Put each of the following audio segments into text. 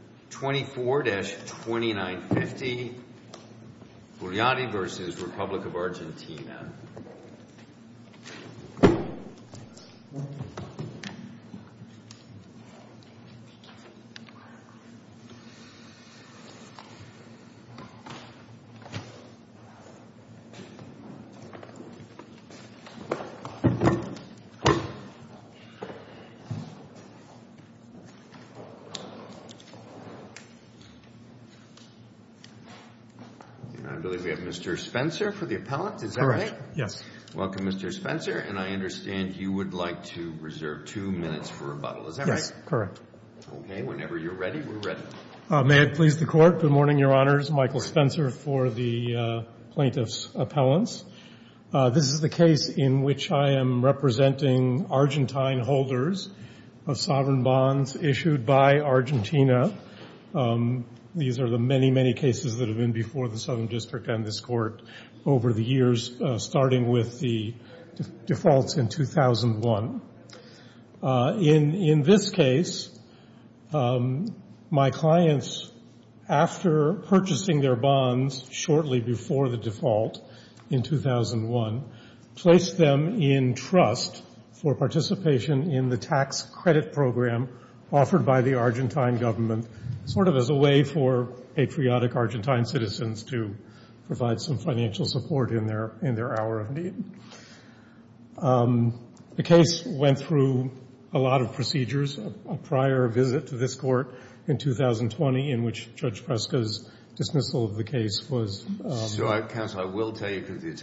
24-2950 Guglielmi v. The Republic of Argentina 24-2950 Guglielmi v. The Republic of Argentina 24-2950 Guglielmi v. The Republic of Argentina 24-2950 Guglielmi v. The Republic of Argentina 24-2950 Guglielmi v. The Republic of Argentina The origin of Argentina's argument on this is the single occurrence of the word disassembly in the trust agreement that was set up for administration of the tax credit program. And in Article V of the trust agreement, which is at page A-103 in the record, it says the trustor, meaning the bondholders, accepts, consents, and agrees,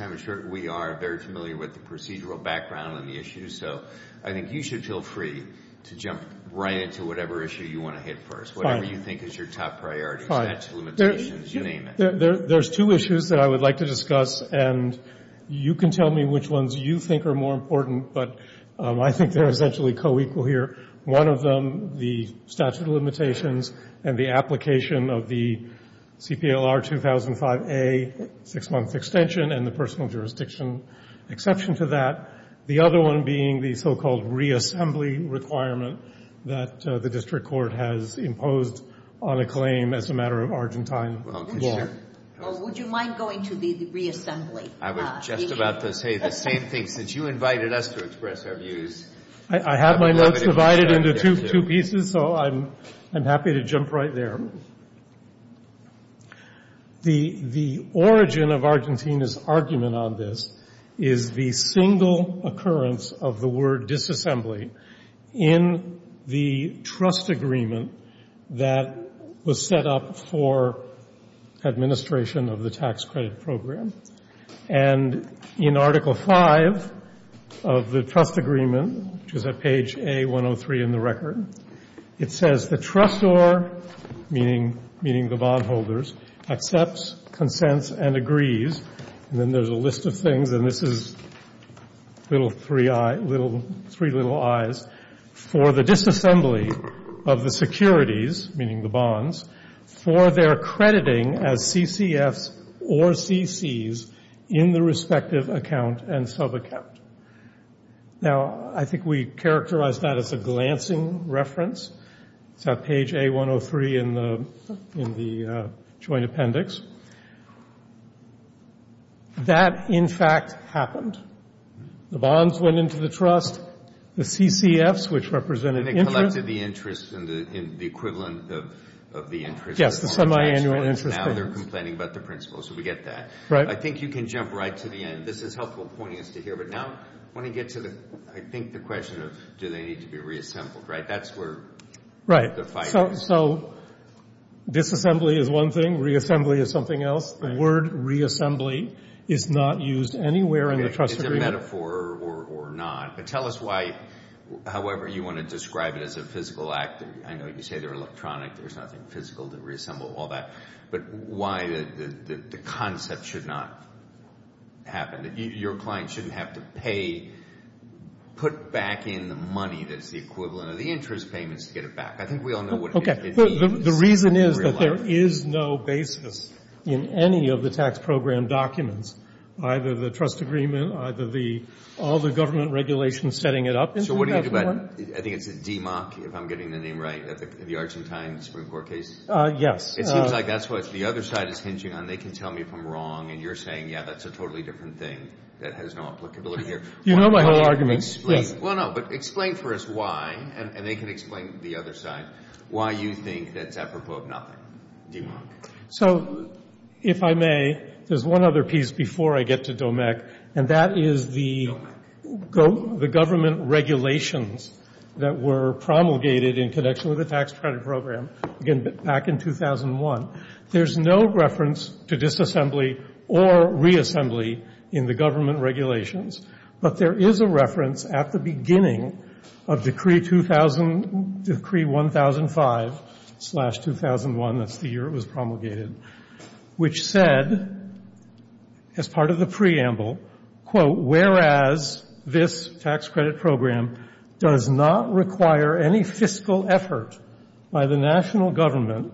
and then there's a list of things, and this is three little I's, for the disassembly of the securities, meaning the bonds, for their crediting as CCFs or CCs in the respective account and subaccount. Now, I think we characterized that as a glancing reference. It's at page A-103 in the joint appendix. That, in fact, happened. The bonds went into the trust, the CCFs, which represented interest. And it collected the interest and the equivalent of the interest. Yes, the semiannual interest. Now they're complaining about the principal, so we get that. Right. I think you can jump right to the end. This is helpful poignant to hear, but now I want to get to, I think, the question of, do they need to be reassembled, right? That's where the fight is. Right. So disassembly is one thing, reassembly is something else. The word reassembly is not used anywhere in the trust agreement. It's a metaphor or not. But tell us why, however you want to describe it as a physical act. I know you say they're electronic. There's nothing physical to reassemble all that. But why the concept should not happen? Your client shouldn't have to pay, put back in the money that's the equivalent of the interest payments to get it back. I think we all know what it means. The reason is that there is no basis in any of the tax program documents, either the trust agreement, either all the government regulations setting it up. So what do you do about it? I think it's a DMOC, if I'm getting the name right, the Argentine Supreme Court case. Yes. It seems like that's what the other side is hinging on. They can tell me if I'm wrong, and you're saying, yeah, that's a totally different thing that has no applicability here. You know my whole argument. Yes. Well, no, but explain for us why, and they can explain the other side, why you think that's apropos of nothing, DMOC. So if I may, there's one other piece before I get to DOMEC, and that is the government regulations that were promulgated in connection with the tax credit program back in 2001. There's no reference to disassembly or reassembly in the government regulations. But there is a reference at the beginning of Decree 1005-2001, that's the year it was promulgated, which said, as part of the preamble, quote, "'Whereas this tax credit program does not require any fiscal effort by the national government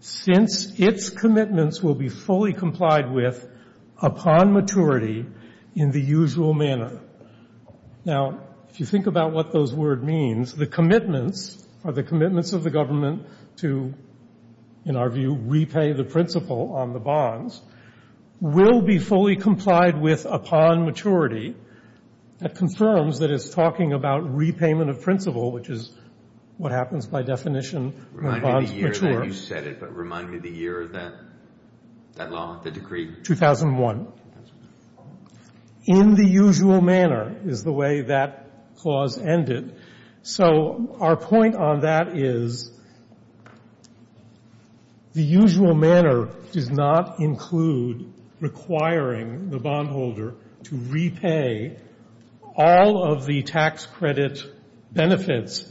since its commitments will be fully complied with upon maturity in the usual manner.'" Now, if you think about what those words mean, the commitments are the commitments of the government to, in our view, repay the principal on the bonds, will be fully complied with upon maturity. That confirms that it's talking about repayment of principal, which is what happens by definition when bonds mature. Remind me the year that you said it, but remind me the year of that law, the decree. 2001. 2001. In the usual manner is the way that clause ended. So our point on that is the usual manner does not include requiring the bondholder to repay all of the tax credit benefits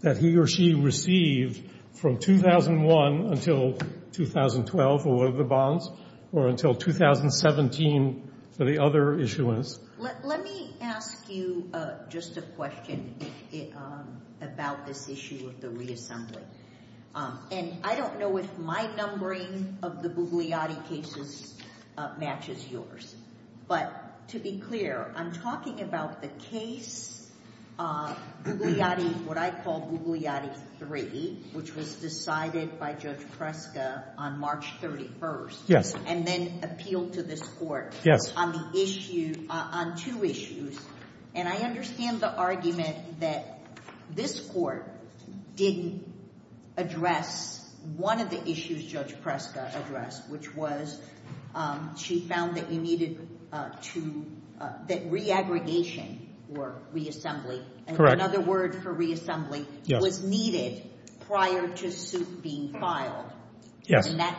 that he or she received from 2001 until 2012 for one of the bonds or until 2017 for the other issuance. Let me ask you just a question about this issue of the reassembly. And I don't know if my numbering of the Bugliotti cases matches yours, but to be clear, I'm talking about the case, what I call Bugliotti 3, which was decided by Judge Preska on March 31st and then appealed to this court on two issues. And I understand the argument that this court didn't address one of the issues Judge Preska addressed, which was she found that you needed to re-aggregation or reassembly. Correct. Another word for reassembly was needed prior to suit being filed. Yes. And that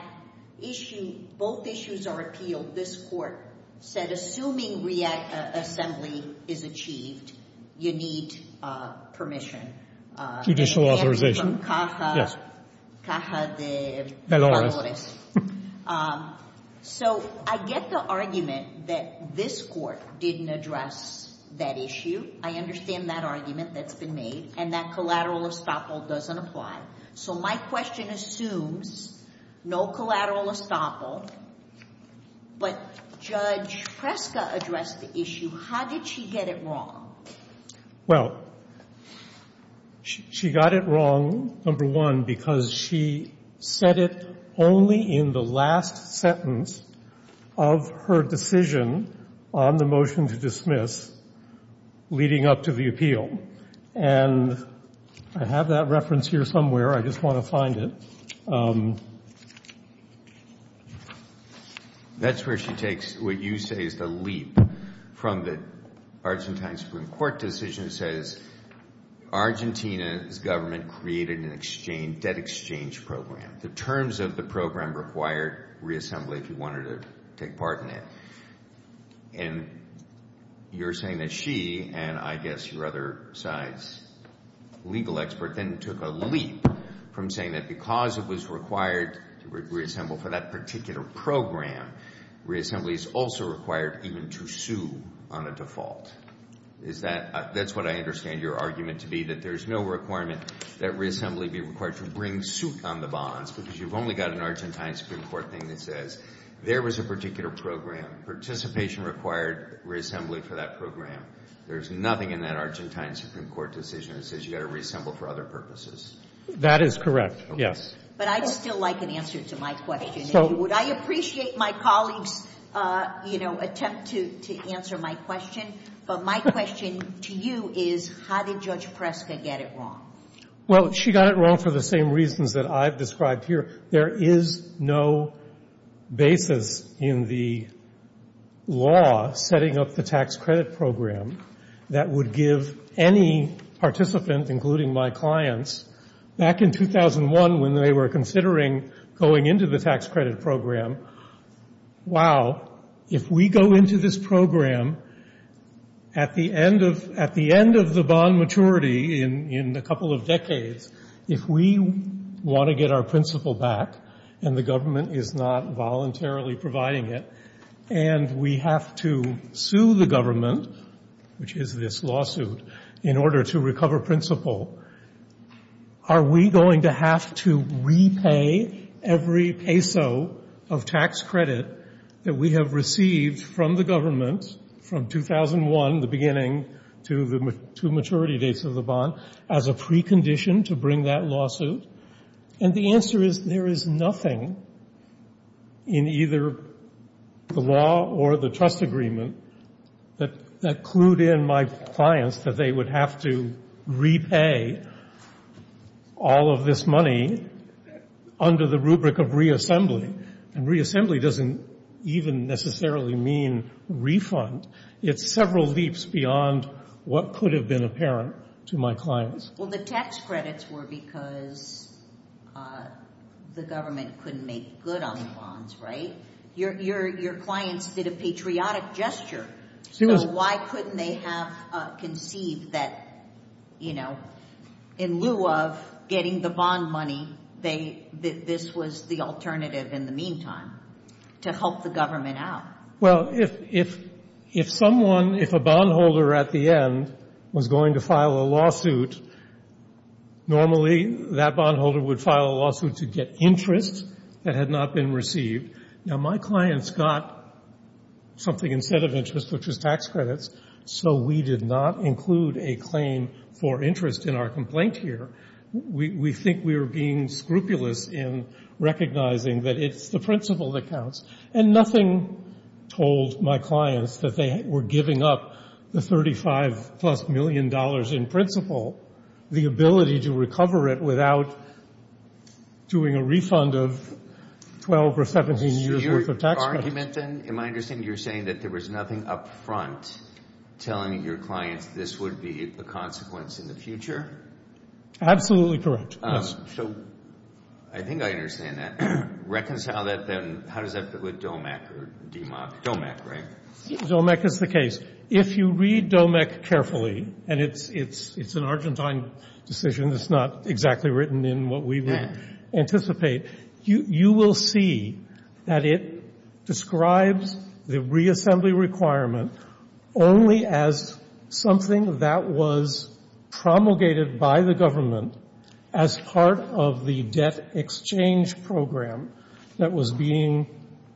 issue, both issues are appealed. This court said assuming reassembly is achieved, you need permission. Judicial authorization. Hello. So I get the argument that this court didn't address that issue. I understand that argument that's been made and that collateral estoppel doesn't apply. So my question assumes no collateral estoppel, but Judge Preska addressed the issue. How did she get it wrong? Well, she got it wrong, number one, because she said it only in the last sentence of her decision on the motion to dismiss leading up to the appeal. And I have that reference here somewhere. I just want to find it. That's where she takes what you say is the leap from the Argentine Supreme Court decision that says Argentina's government created a debt exchange program. The terms of the program required reassembly if you wanted to take part in it. And you're saying that she, and I guess your other side's legal expert, then took a leap from saying that because it was required to reassemble for that particular program, reassembly is also required even to sue on a default. That's what I understand your argument to be, that there's no requirement that reassembly be required to bring suit on the bonds because you've only got an Argentine Supreme Court thing that says there was a particular program. Participation required reassembly for that program. There's nothing in that Argentine Supreme Court decision that says you've got to reassemble for other purposes. That is correct, yes. But I'd still like an answer to my question. Would I appreciate my colleague's, you know, attempt to answer my question? But my question to you is how did Judge Preska get it wrong? Well, she got it wrong for the same reasons that I've described here. There is no basis in the law setting up the tax credit program that would give any participant, including my clients, back in 2001 when they were considering going into the tax credit program, wow, if we go into this program at the end of the bond maturity in a couple of decades, if we want to get our principal back and the government is not voluntarily providing it and we have to sue the government, which is this lawsuit, in order to recover principal, are we going to have to repay every peso of tax credit that we have received from the government the beginning to the two maturity dates of the bond as a precondition to bring that lawsuit? And the answer is there is nothing in either the law or the trust agreement that clued in my clients that they would have to repay all of this money under the rubric of reassembly. And reassembly doesn't even necessarily mean refund. It's several leaps beyond what could have been apparent to my clients. Well, the tax credits were because the government couldn't make good on the bonds, right? Your clients did a patriotic gesture. So why couldn't they have conceived that, you know, in lieu of getting the bond money, this was the alternative in the meantime to help the government out? Well, if someone, if a bondholder at the end was going to file a lawsuit, normally that bondholder would file a lawsuit to get interest that had not been received. Now, my clients got something instead of interest, which was tax credits, so we did not include a claim for interest in our complaint here. We think we are being scrupulous in recognizing that it's the principle that counts. And nothing told my clients that they were giving up the $35-plus million in principle, the ability to recover it without doing a refund of 12 or 17 years' worth of tax credit. Was your argument then, in my understanding, you were saying that there was nothing up front telling your clients this would be a consequence in the future? Absolutely correct, yes. So I think I understand that. Reconcile that then, how does that fit with DOMEC or DMOC? DOMEC, right? DOMEC is the case. If you read DOMEC carefully, and it's an Argentine decision that's not exactly written in what we would anticipate, you will see that it describes the reassembly requirement only as something that was promulgated by the government as part of the debt exchange program that was being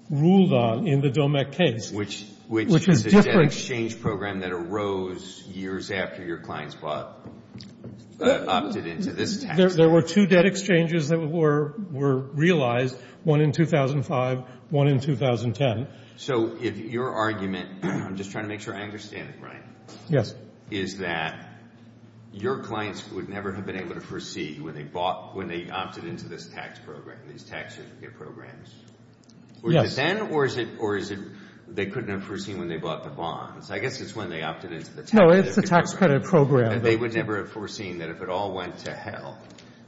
ruled on in the DOMEC case. Which is a debt exchange program that arose years after your clients opted into this tax credit. There were two debt exchanges that were realized, one in 2005, one in 2010. So if your argument, I'm just trying to make sure I understand it right. Yes. Is that your clients would never have been able to foresee when they bought, when they opted into this tax program, these tax certificate programs. Yes. Was it then, or is it they couldn't have foreseen when they bought the bonds? I guess it's when they opted into the tax credit program. No, it's the tax credit program. They would never have foreseen that if it all went to hell,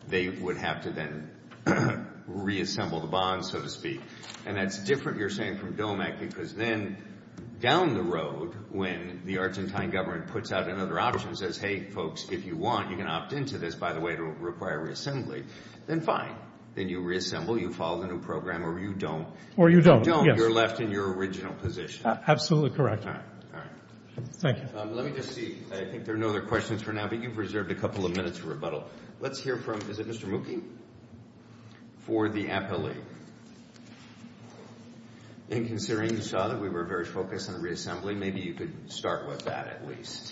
they would have to then reassemble the bonds, so to speak. And that's different, you're saying, from DOMEC, because then down the road, when the Argentine government puts out another option and says, hey, folks, if you want, you can opt into this by the way to require reassembly, then fine. Then you reassemble, you follow the new program, or you don't. Or you don't, yes. You're left in your original position. Absolutely correct. All right, all right. Thank you. Let me just see. I think there are no other questions for now, but you've reserved a couple of minutes for rebuttal. Let's hear from, is it Mr. Mookie? For the appellee. And considering you saw that we were very focused on the reassembly, maybe you could start with that at least.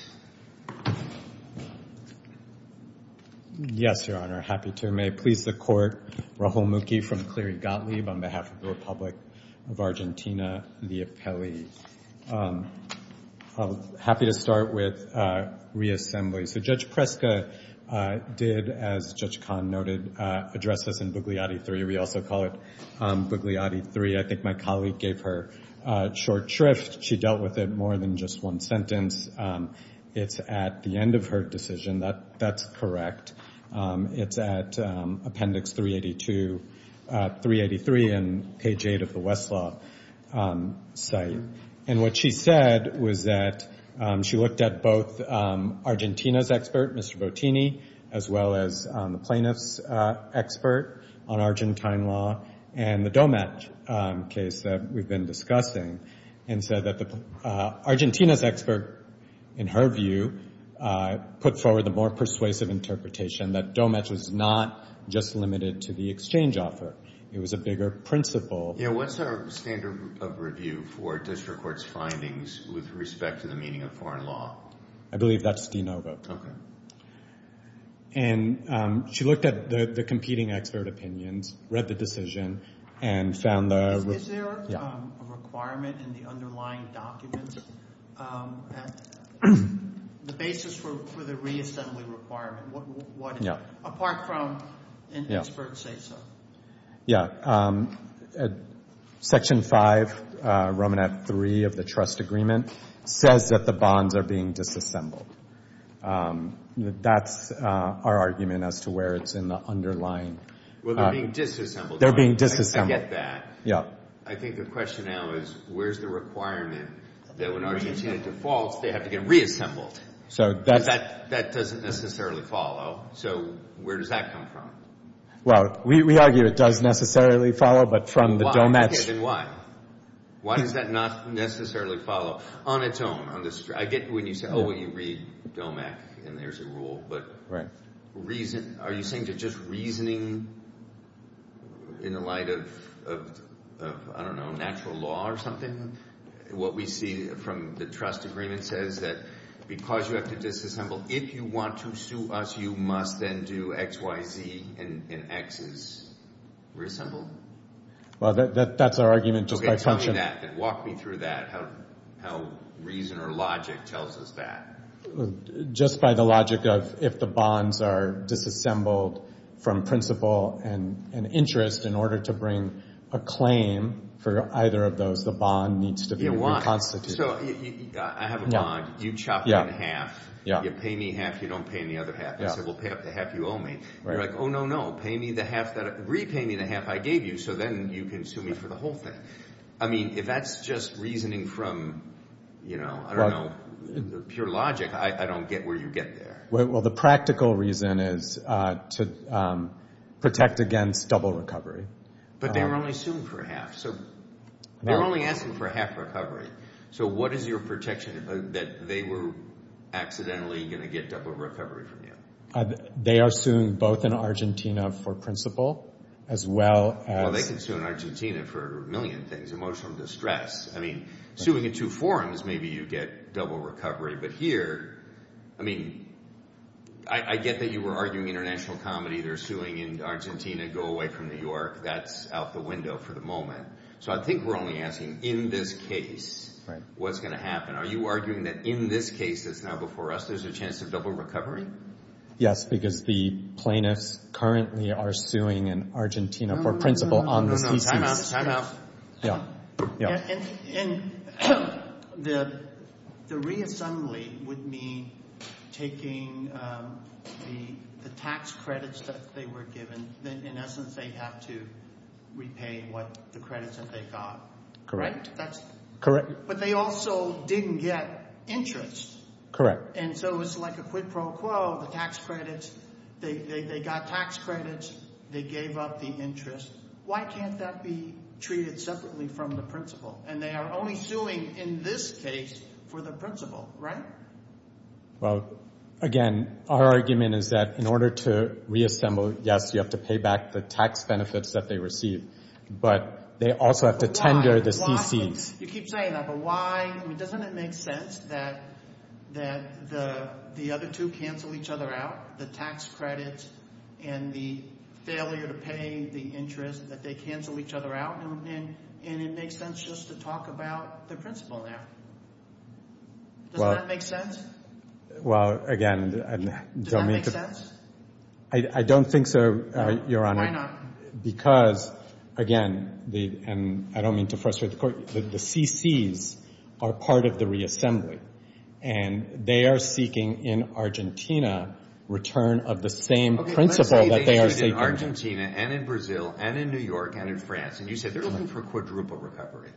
Yes, Your Honor. Happy to. May it please the Court, Raul Mookie from Cleary Gottlieb on behalf of the Republic of Argentina, the appellee. I'm happy to start with reassembly. So Judge Preska did, as Judge Kahn noted, address this in Bugliotti III. We also call it Bugliotti III. I think my colleague gave her short shrift. She dealt with it more than just one sentence. It's at the end of her decision. That's correct. It's at appendix 382, 383 and page 8 of the Westlaw site. And what she said was that she looked at both Argentina's expert, Mr. Bottini, as well as the plaintiff's expert on Argentine law, and the DOMAT case that we've been discussing, and said that Argentina's expert, in her view, put forward the more persuasive interpretation that DOMAT was not just limited to the exchange offer. It was a bigger principle. Yeah, what's our standard of review for district court's findings with respect to the meaning of foreign law? I believe that's de novo. Okay. And she looked at the competing expert opinions, read the decision, and found the— Is there a requirement in the underlying documents, the basis for the reassembly requirement? What is it, apart from an expert say-so? Yeah. Section 5, Romanat III of the trust agreement, says that the bonds are being disassembled. That's our argument as to where it's in the underlying— Well, they're being disassembled. They're being disassembled. I get that. Yeah. I think the question now is, where's the requirement that when Argentina defaults, they have to get reassembled? That doesn't necessarily follow. So where does that come from? Well, we argue it does necessarily follow, but from the DOMACC— Okay, then why? Why does that not necessarily follow on its own? I get when you say, oh, when you read DOMACC, and there's a rule. But are you saying they're just reasoning in the light of, I don't know, natural law or something? What we see from the trust agreement says that because you have to disassemble, if you want to sue us, you must then do X, Y, Z, and X is reassembled? Well, that's our argument just by function. Okay, tell me that. Walk me through that, how reason or logic tells us that. Just by the logic of if the bonds are disassembled from principle and interest, in order to bring a claim for either of those, the bond needs to be reconstituted. So I have a bond. You chop me in half. You pay me half, you don't pay any other half. You say, well, pay up the half you owe me. You're like, oh, no, no, repay me the half I gave you, so then you can sue me for the whole thing. I mean, if that's just reasoning from, you know, I don't know, pure logic, I don't get where you get there. Well, the practical reason is to protect against double recovery. But they were only suing for half. So they're only asking for half recovery. So what is your projection that they were accidentally going to get double recovery from you? They are suing both in Argentina for principle as well as— Well, they can sue in Argentina for a million things, emotional distress. I mean, suing in two forums, maybe you get double recovery. But here, I mean, I get that you were arguing international comedy. They're suing in Argentina, go away from New York. That's out the window for the moment. So I think we're only asking in this case what's going to happen. Are you arguing that in this case that's now before us, there's a chance of double recovery? Yes, because the plaintiffs currently are suing in Argentina for principle on the CCC. Time out. Time out. And the reassembly would mean taking the tax credits that they were given. In essence, they have to repay what the credits that they got. Correct. But they also didn't get interest. Correct. And so it's like a quid pro quo, the tax credits. They got tax credits. They gave up the interest. Why can't that be treated separately from the principle? And they are only suing in this case for the principle, right? Well, again, our argument is that in order to reassemble, yes, you have to pay back the tax benefits that they received. But they also have to tender the CCs. You keep saying that, but why? I mean, doesn't it make sense that the other two cancel each other out? The tax credits and the failure to pay the interest, that they cancel each other out? And it makes sense just to talk about the principle now. Doesn't that make sense? Well, again, I don't mean to— Does that make sense? I don't think so, Your Honor. Why not? Because, again—and I don't mean to frustrate the court—the CCs are part of the reassembly. And they are seeking in Argentina return of the same principle that they are seeking. Okay, let's say they sued in Argentina and in Brazil and in New York and in France. And you said they're looking for a quadruple recovery.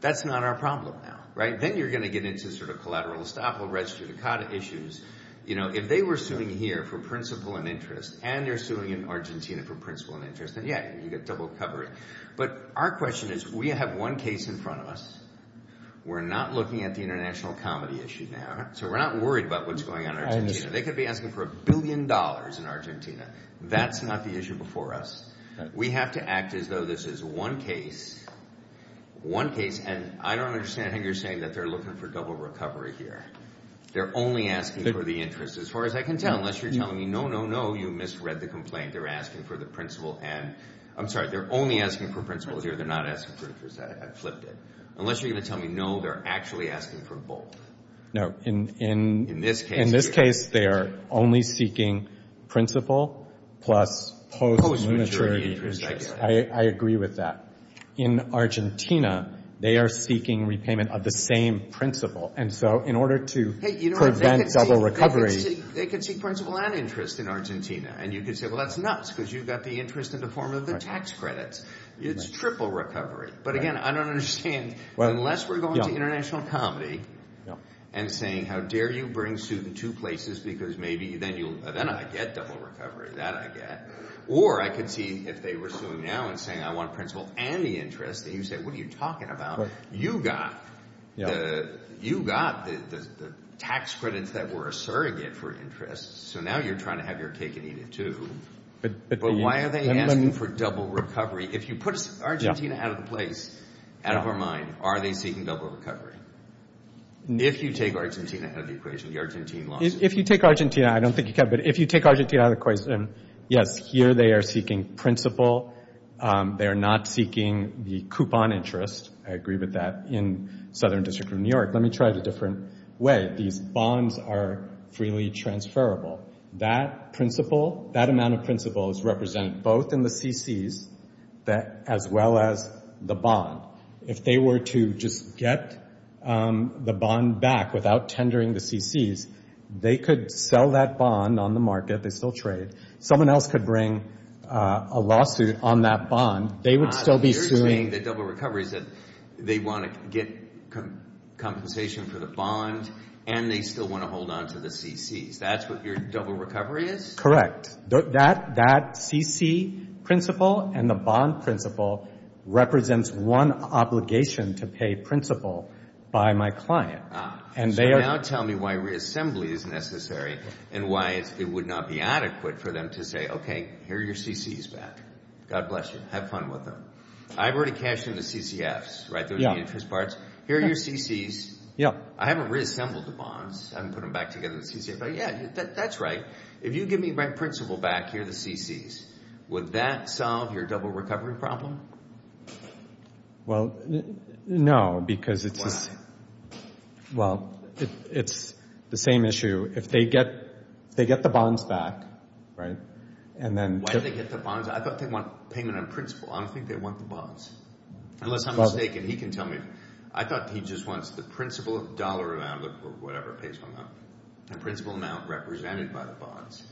That's not our problem now, right? Then you're going to get into sort of collateral estoppel, res judicata issues. You know, if they were suing here for principle and interest and they're suing in Argentina for principle and interest, then, yeah, you get double recovery. But our question is, we have one case in front of us. We're not looking at the international comedy issue now. So we're not worried about what's going on in Argentina. They could be asking for a billion dollars in Argentina. That's not the issue before us. We have to act as though this is one case, one case. And I don't understand how you're saying that they're looking for double recovery here. They're only asking for the interest. As far as I can tell, unless you're telling me, no, no, no, you misread the complaint. They're asking for the principle. And I'm sorry, they're only asking for principle here. They're not asking for interest. I flipped it. Unless you're going to tell me, no, they're actually asking for both. No. In this case, they are only seeking principle plus post-monetary interest. I agree with that. In Argentina, they are seeking repayment of the same principle. And so in order to prevent double recovery. They could seek principle and interest in Argentina. And you could say, well, that's nuts because you've got the interest in the form of the tax credits. It's triple recovery. But, again, I don't understand. Unless we're going to international comedy and saying, how dare you bring suit in two places because maybe then I get double recovery. That I get. Or I could see if they were suing now and saying, I want principle and the interest. And you say, what are you talking about? You got the tax credits that were a surrogate for interest. So now you're trying to have your cake and eat it too. But why are they asking for double recovery? If you put Argentina out of the place, out of our mind, are they seeking double recovery? If you take Argentina out of the equation, the Argentine lawsuit. If you take Argentina, I don't think you can. But if you take Argentina out of the equation, yes, here they are seeking principle. They are not seeking the coupon interest. I agree with that in Southern District of New York. Let me try it a different way. These bonds are freely transferable. That amount of principle is represented both in the CCs as well as the bond. If they were to just get the bond back without tendering the CCs, they could sell that bond on the market. They still trade. Someone else could bring a lawsuit on that bond. They would still be suing. You're saying that double recovery is that they want to get compensation for the bond and they still want to hold on to the CCs. That's what your double recovery is? Correct. That CC principle and the bond principle represents one obligation to pay principle by my client. So now tell me why reassembly is necessary and why it would not be adequate for them to say, okay, here are your CCs back. God bless you. Have fun with them. I've already cashed in the CCFs, right, those interest parts. Here are your CCs. I haven't reassembled the bonds. I haven't put them back together in the CCF. Yeah, that's right. If you give me my principle back, here are the CCs. Would that solve your double recovery problem? Well, no because it's the same issue. If they get the bonds back, right, and then Why do they get the bonds? I thought they want payment on principle. I don't think they want the bonds. Unless I'm mistaken. He can tell me. I thought he just wants the principle dollar amount or whatever pays for them, the principle amount represented by the bonds.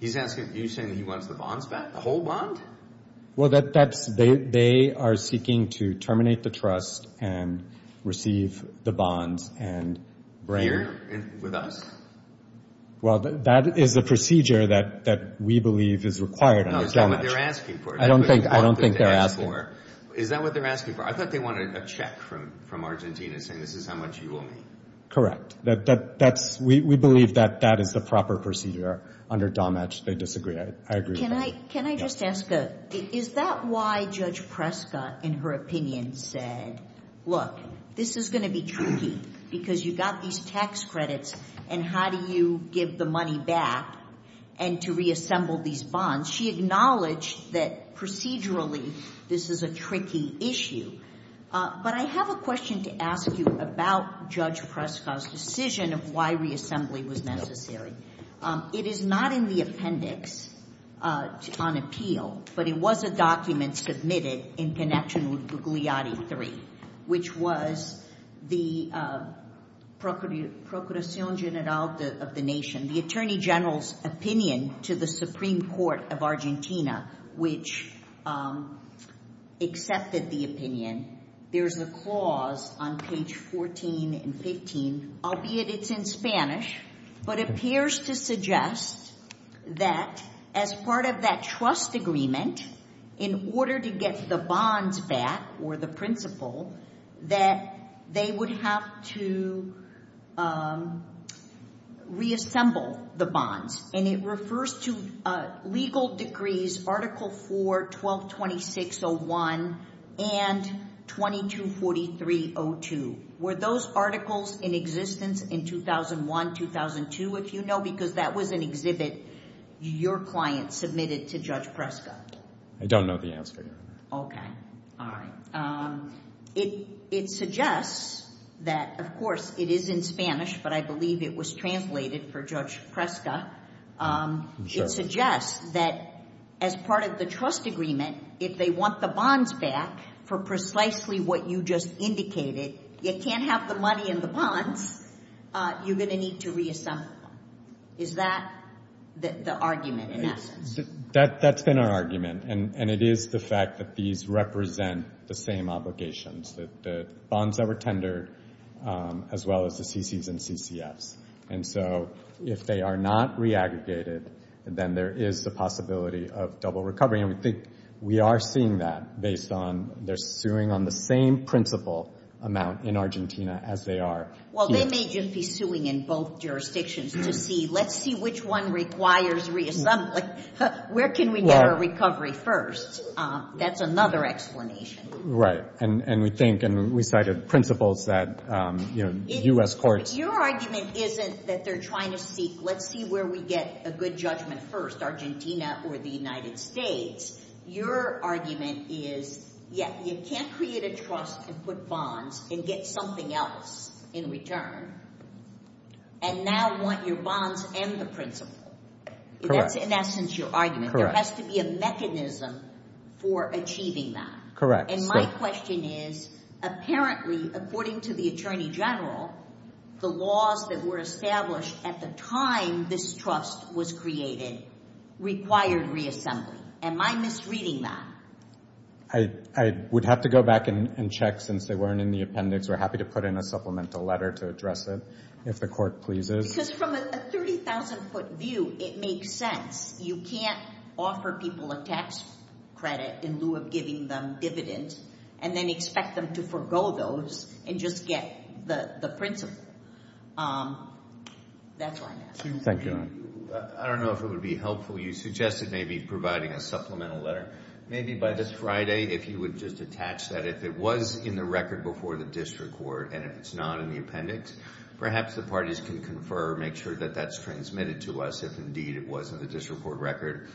He's asking, are you saying he wants the bonds back, the whole bond? Well, they are seeking to terminate the trust and receive the bonds and bring Here with us? Well, that is the procedure that we believe is required. That's not what they're asking for. I don't think they're asking. Is that what they're asking for? I thought they wanted a check from Argentina saying this is how much you owe me. Correct. We believe that that is the proper procedure under DOMATCH. They disagree. I agree with that. Can I just ask, is that why Judge Preska, in her opinion, said, Look, this is going to be tricky because you got these tax credits and how do you give the money back and to reassemble these bonds? She acknowledged that procedurally this is a tricky issue. But I have a question to ask you about Judge Preska's decision of why reassembly was necessary. It is not in the appendix on appeal, but it was a document submitted in connection with Gugliotti III, which was the Procuración General of the Nation, the Attorney General's opinion to the Supreme Court of Argentina, which accepted the opinion. There's a clause on page 14 and 15, albeit it's in Spanish, but it appears to suggest that as part of that trust agreement, in order to get the bonds back or the principal, that they would have to reassemble the bonds. And it refers to legal degrees Article 4, 1226.01 and 2243.02. Were those articles in existence in 2001, 2002? If you know, because that was an exhibit your client submitted to Judge Preska. I don't know the answer. Okay. All right. It suggests that, of course, it is in Spanish, but I believe it was translated for Judge Preska. It suggests that as part of the trust agreement, if they want the bonds back for precisely what you just indicated, you can't have the money in the bonds. You're going to need to reassemble them. Is that the argument in that sense? That's been our argument, and it is the fact that these represent the same obligations, the bonds that were tendered as well as the CCs and CCFs. And so if they are not re-aggregated, then there is the possibility of double recovery. And we think we are seeing that based on they're suing on the same principal amount in Argentina as they are here. Well, they may just be suing in both jurisdictions to see, let's see which one requires reassembling. Where can we get a recovery first? That's another explanation. Right. And we think and we cited principles that U.S. courts... Your argument isn't that they're trying to seek, let's see where we get a good judgment first, Argentina or the United States. Your argument is, yeah, you can't create a trust and put bonds and get something else in return and now want your bonds and the principal. Correct. That's in essence your argument. There has to be a mechanism for achieving that. Correct. And my question is, apparently, according to the Attorney General, the laws that were established at the time this trust was created required reassembly. Am I misreading that? I would have to go back and check since they weren't in the appendix. We're happy to put in a supplemental letter to address it if the court pleases. Because from a 30,000-foot view, it makes sense. You can't offer people a tax credit in lieu of giving them dividends and then expect them to forego those and just get the principal. That's why I asked. Thank you. I don't know if it would be helpful. You suggested maybe providing a supplemental letter. Maybe by this Friday if you would just attach that. If it was in the record before the district court and if it's not in the appendix, perhaps the parties can confer, make sure that that's transmitted to us if indeed it was in the district court record.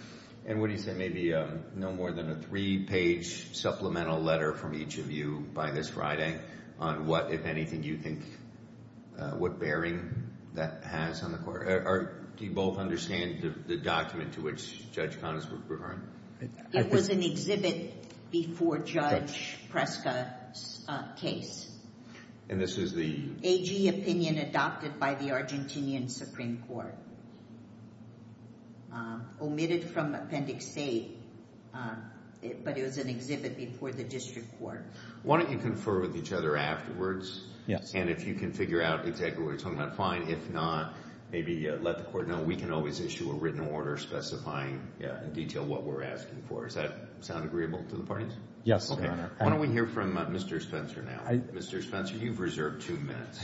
And what do you say? Maybe no more than a three-page supplemental letter from each of you by this Friday on what, if anything, you think, what bearing that has on the court. Do you both understand the document to which Judge Connors was referring? It was an exhibit before Judge Preska's case. And this is the? AG opinion adopted by the Argentinian Supreme Court. Omitted from Appendix A, but it was an exhibit before the district court. Why don't you confer with each other afterwards? Yes. And if you can figure out exactly what you're talking about, fine. If not, maybe let the court know. We can always issue a written order specifying in detail what we're asking for. Does that sound agreeable to the parties? Yes, Your Honor. Why don't we hear from Mr. Spencer now? Mr. Spencer, you've reserved two minutes.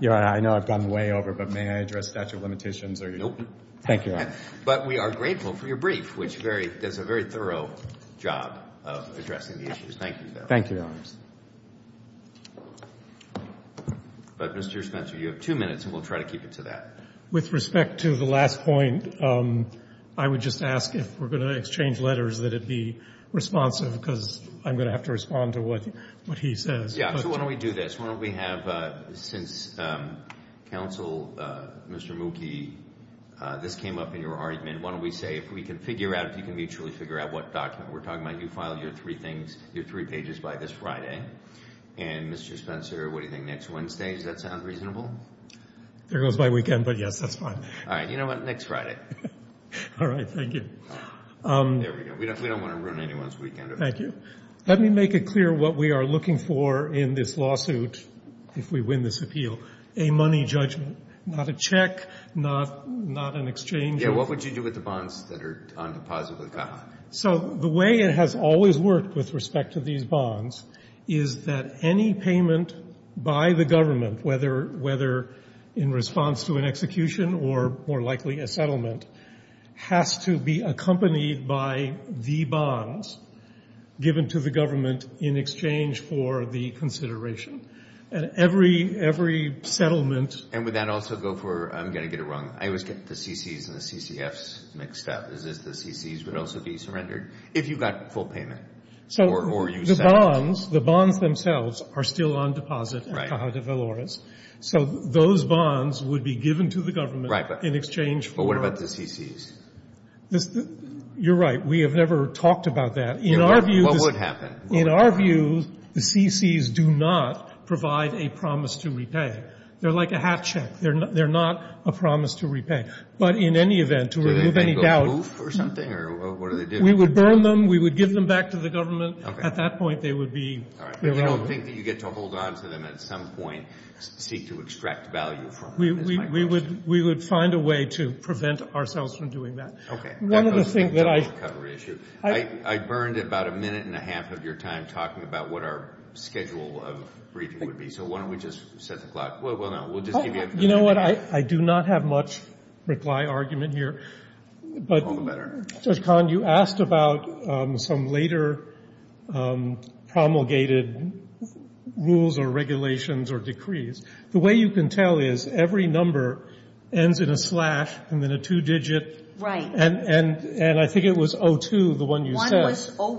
Your Honor, I know I've gone way over, but may I address statute of limitations? Nope. Thank you, Your Honor. But we are grateful for your brief, which does a very thorough job of addressing the issues. Thank you, Your Honor. Thank you, Your Honor. But, Mr. Spencer, you have two minutes, and we'll try to keep it to that. With respect to the last point, I would just ask, if we're going to exchange letters, that it be responsive, because I'm going to have to respond to what he says. Yeah, so why don't we do this? Why don't we have, since Counsel, Mr. Mookie, this came up in your argument, why don't we say if we can figure out, if you can mutually figure out what document we're talking about, you filed your three things, your three pages by this Friday. And, Mr. Spencer, what do you think, next Wednesday? Does that sound reasonable? There goes my weekend, but, yes, that's fine. All right. You know what? Next Friday. All right. Thank you. There we go. We don't want to ruin anyone's weekend. Thank you. Let me make it clear what we are looking for in this lawsuit, if we win this appeal, a money judgment, not a check, not an exchange. Yeah, what would you do with the bonds that are on deposit with CAHA? So the way it has always worked with respect to these bonds is that any payment by the government, whether in response to an execution or, more likely, a settlement, has to be accompanied by the bonds given to the government in exchange for the consideration. And every settlement And would that also go for, I'm going to get it wrong, I always get the CCs and the CCFs mixed up. Is this the CCs would also be surrendered if you got full payment? So the bonds, the bonds themselves are still on deposit at CAHA de Valores. So those bonds would be given to the government in exchange for But what about the CCs? You're right. We have never talked about that. What would happen? In our view, the CCs do not provide a promise to repay. They're like a hat check. They're not a promise to repay. But in any event, to remove any doubt Do they go proof or something? Or what do they do? We would burn them. We would give them back to the government. Okay. At that point, they would be All right. But you don't think that you get to hold on to them at some point, seek to extract value from them? We would find a way to prevent ourselves from doing that. Okay. One of the things that I I burned about a minute and a half of your time talking about what our schedule of briefing would be. So why don't we just set the clock? Well, no, we'll just give you a You know what? I do not have much reply argument here. All the better. Judge Kahn, you asked about some later promulgated rules or regulations or decrees. The way you can tell is every number ends in a slash and then a two-digit. Right. And I think it was 02, the one you said. One was 01,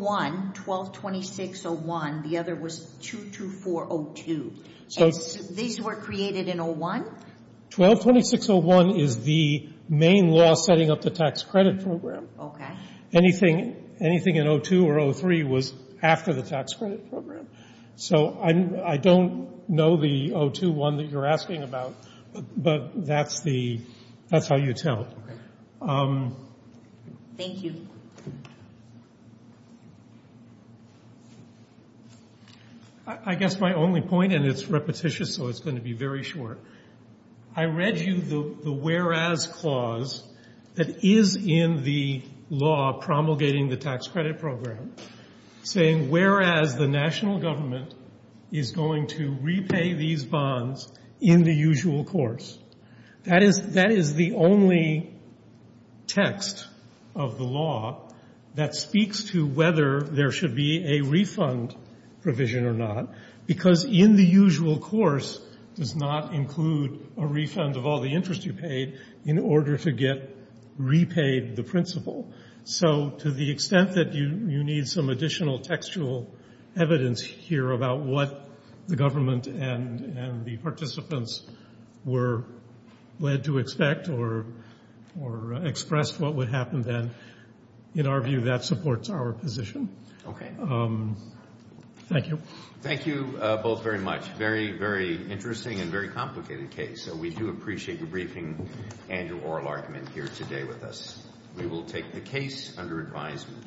122601. The other was 22402. And these were created in 01? 122601 is the main law setting up the tax credit program. Anything in 02 or 03 was after the tax credit program. So I don't know the 02 one that you're asking about, but that's how you tell. Thank you. Thank you. I guess my only point, and it's repetitious, so it's going to be very short. I read you the whereas clause that is in the law promulgating the tax credit program, saying whereas the national government is going to repay these bonds in the usual course. That is the only text of the law that speaks to whether there should be a refund provision or not, because in the usual course does not include a refund of all the interest you paid in order to get repaid the principal. So to the extent that you need some additional textual evidence here about what the government and the participants were led to expect or expressed what would happen then, in our view that supports our position. Thank you. Thank you both very much. Very, very interesting and very complicated case. We do appreciate your briefing and your oral argument here today with us. We will take the case under advisement.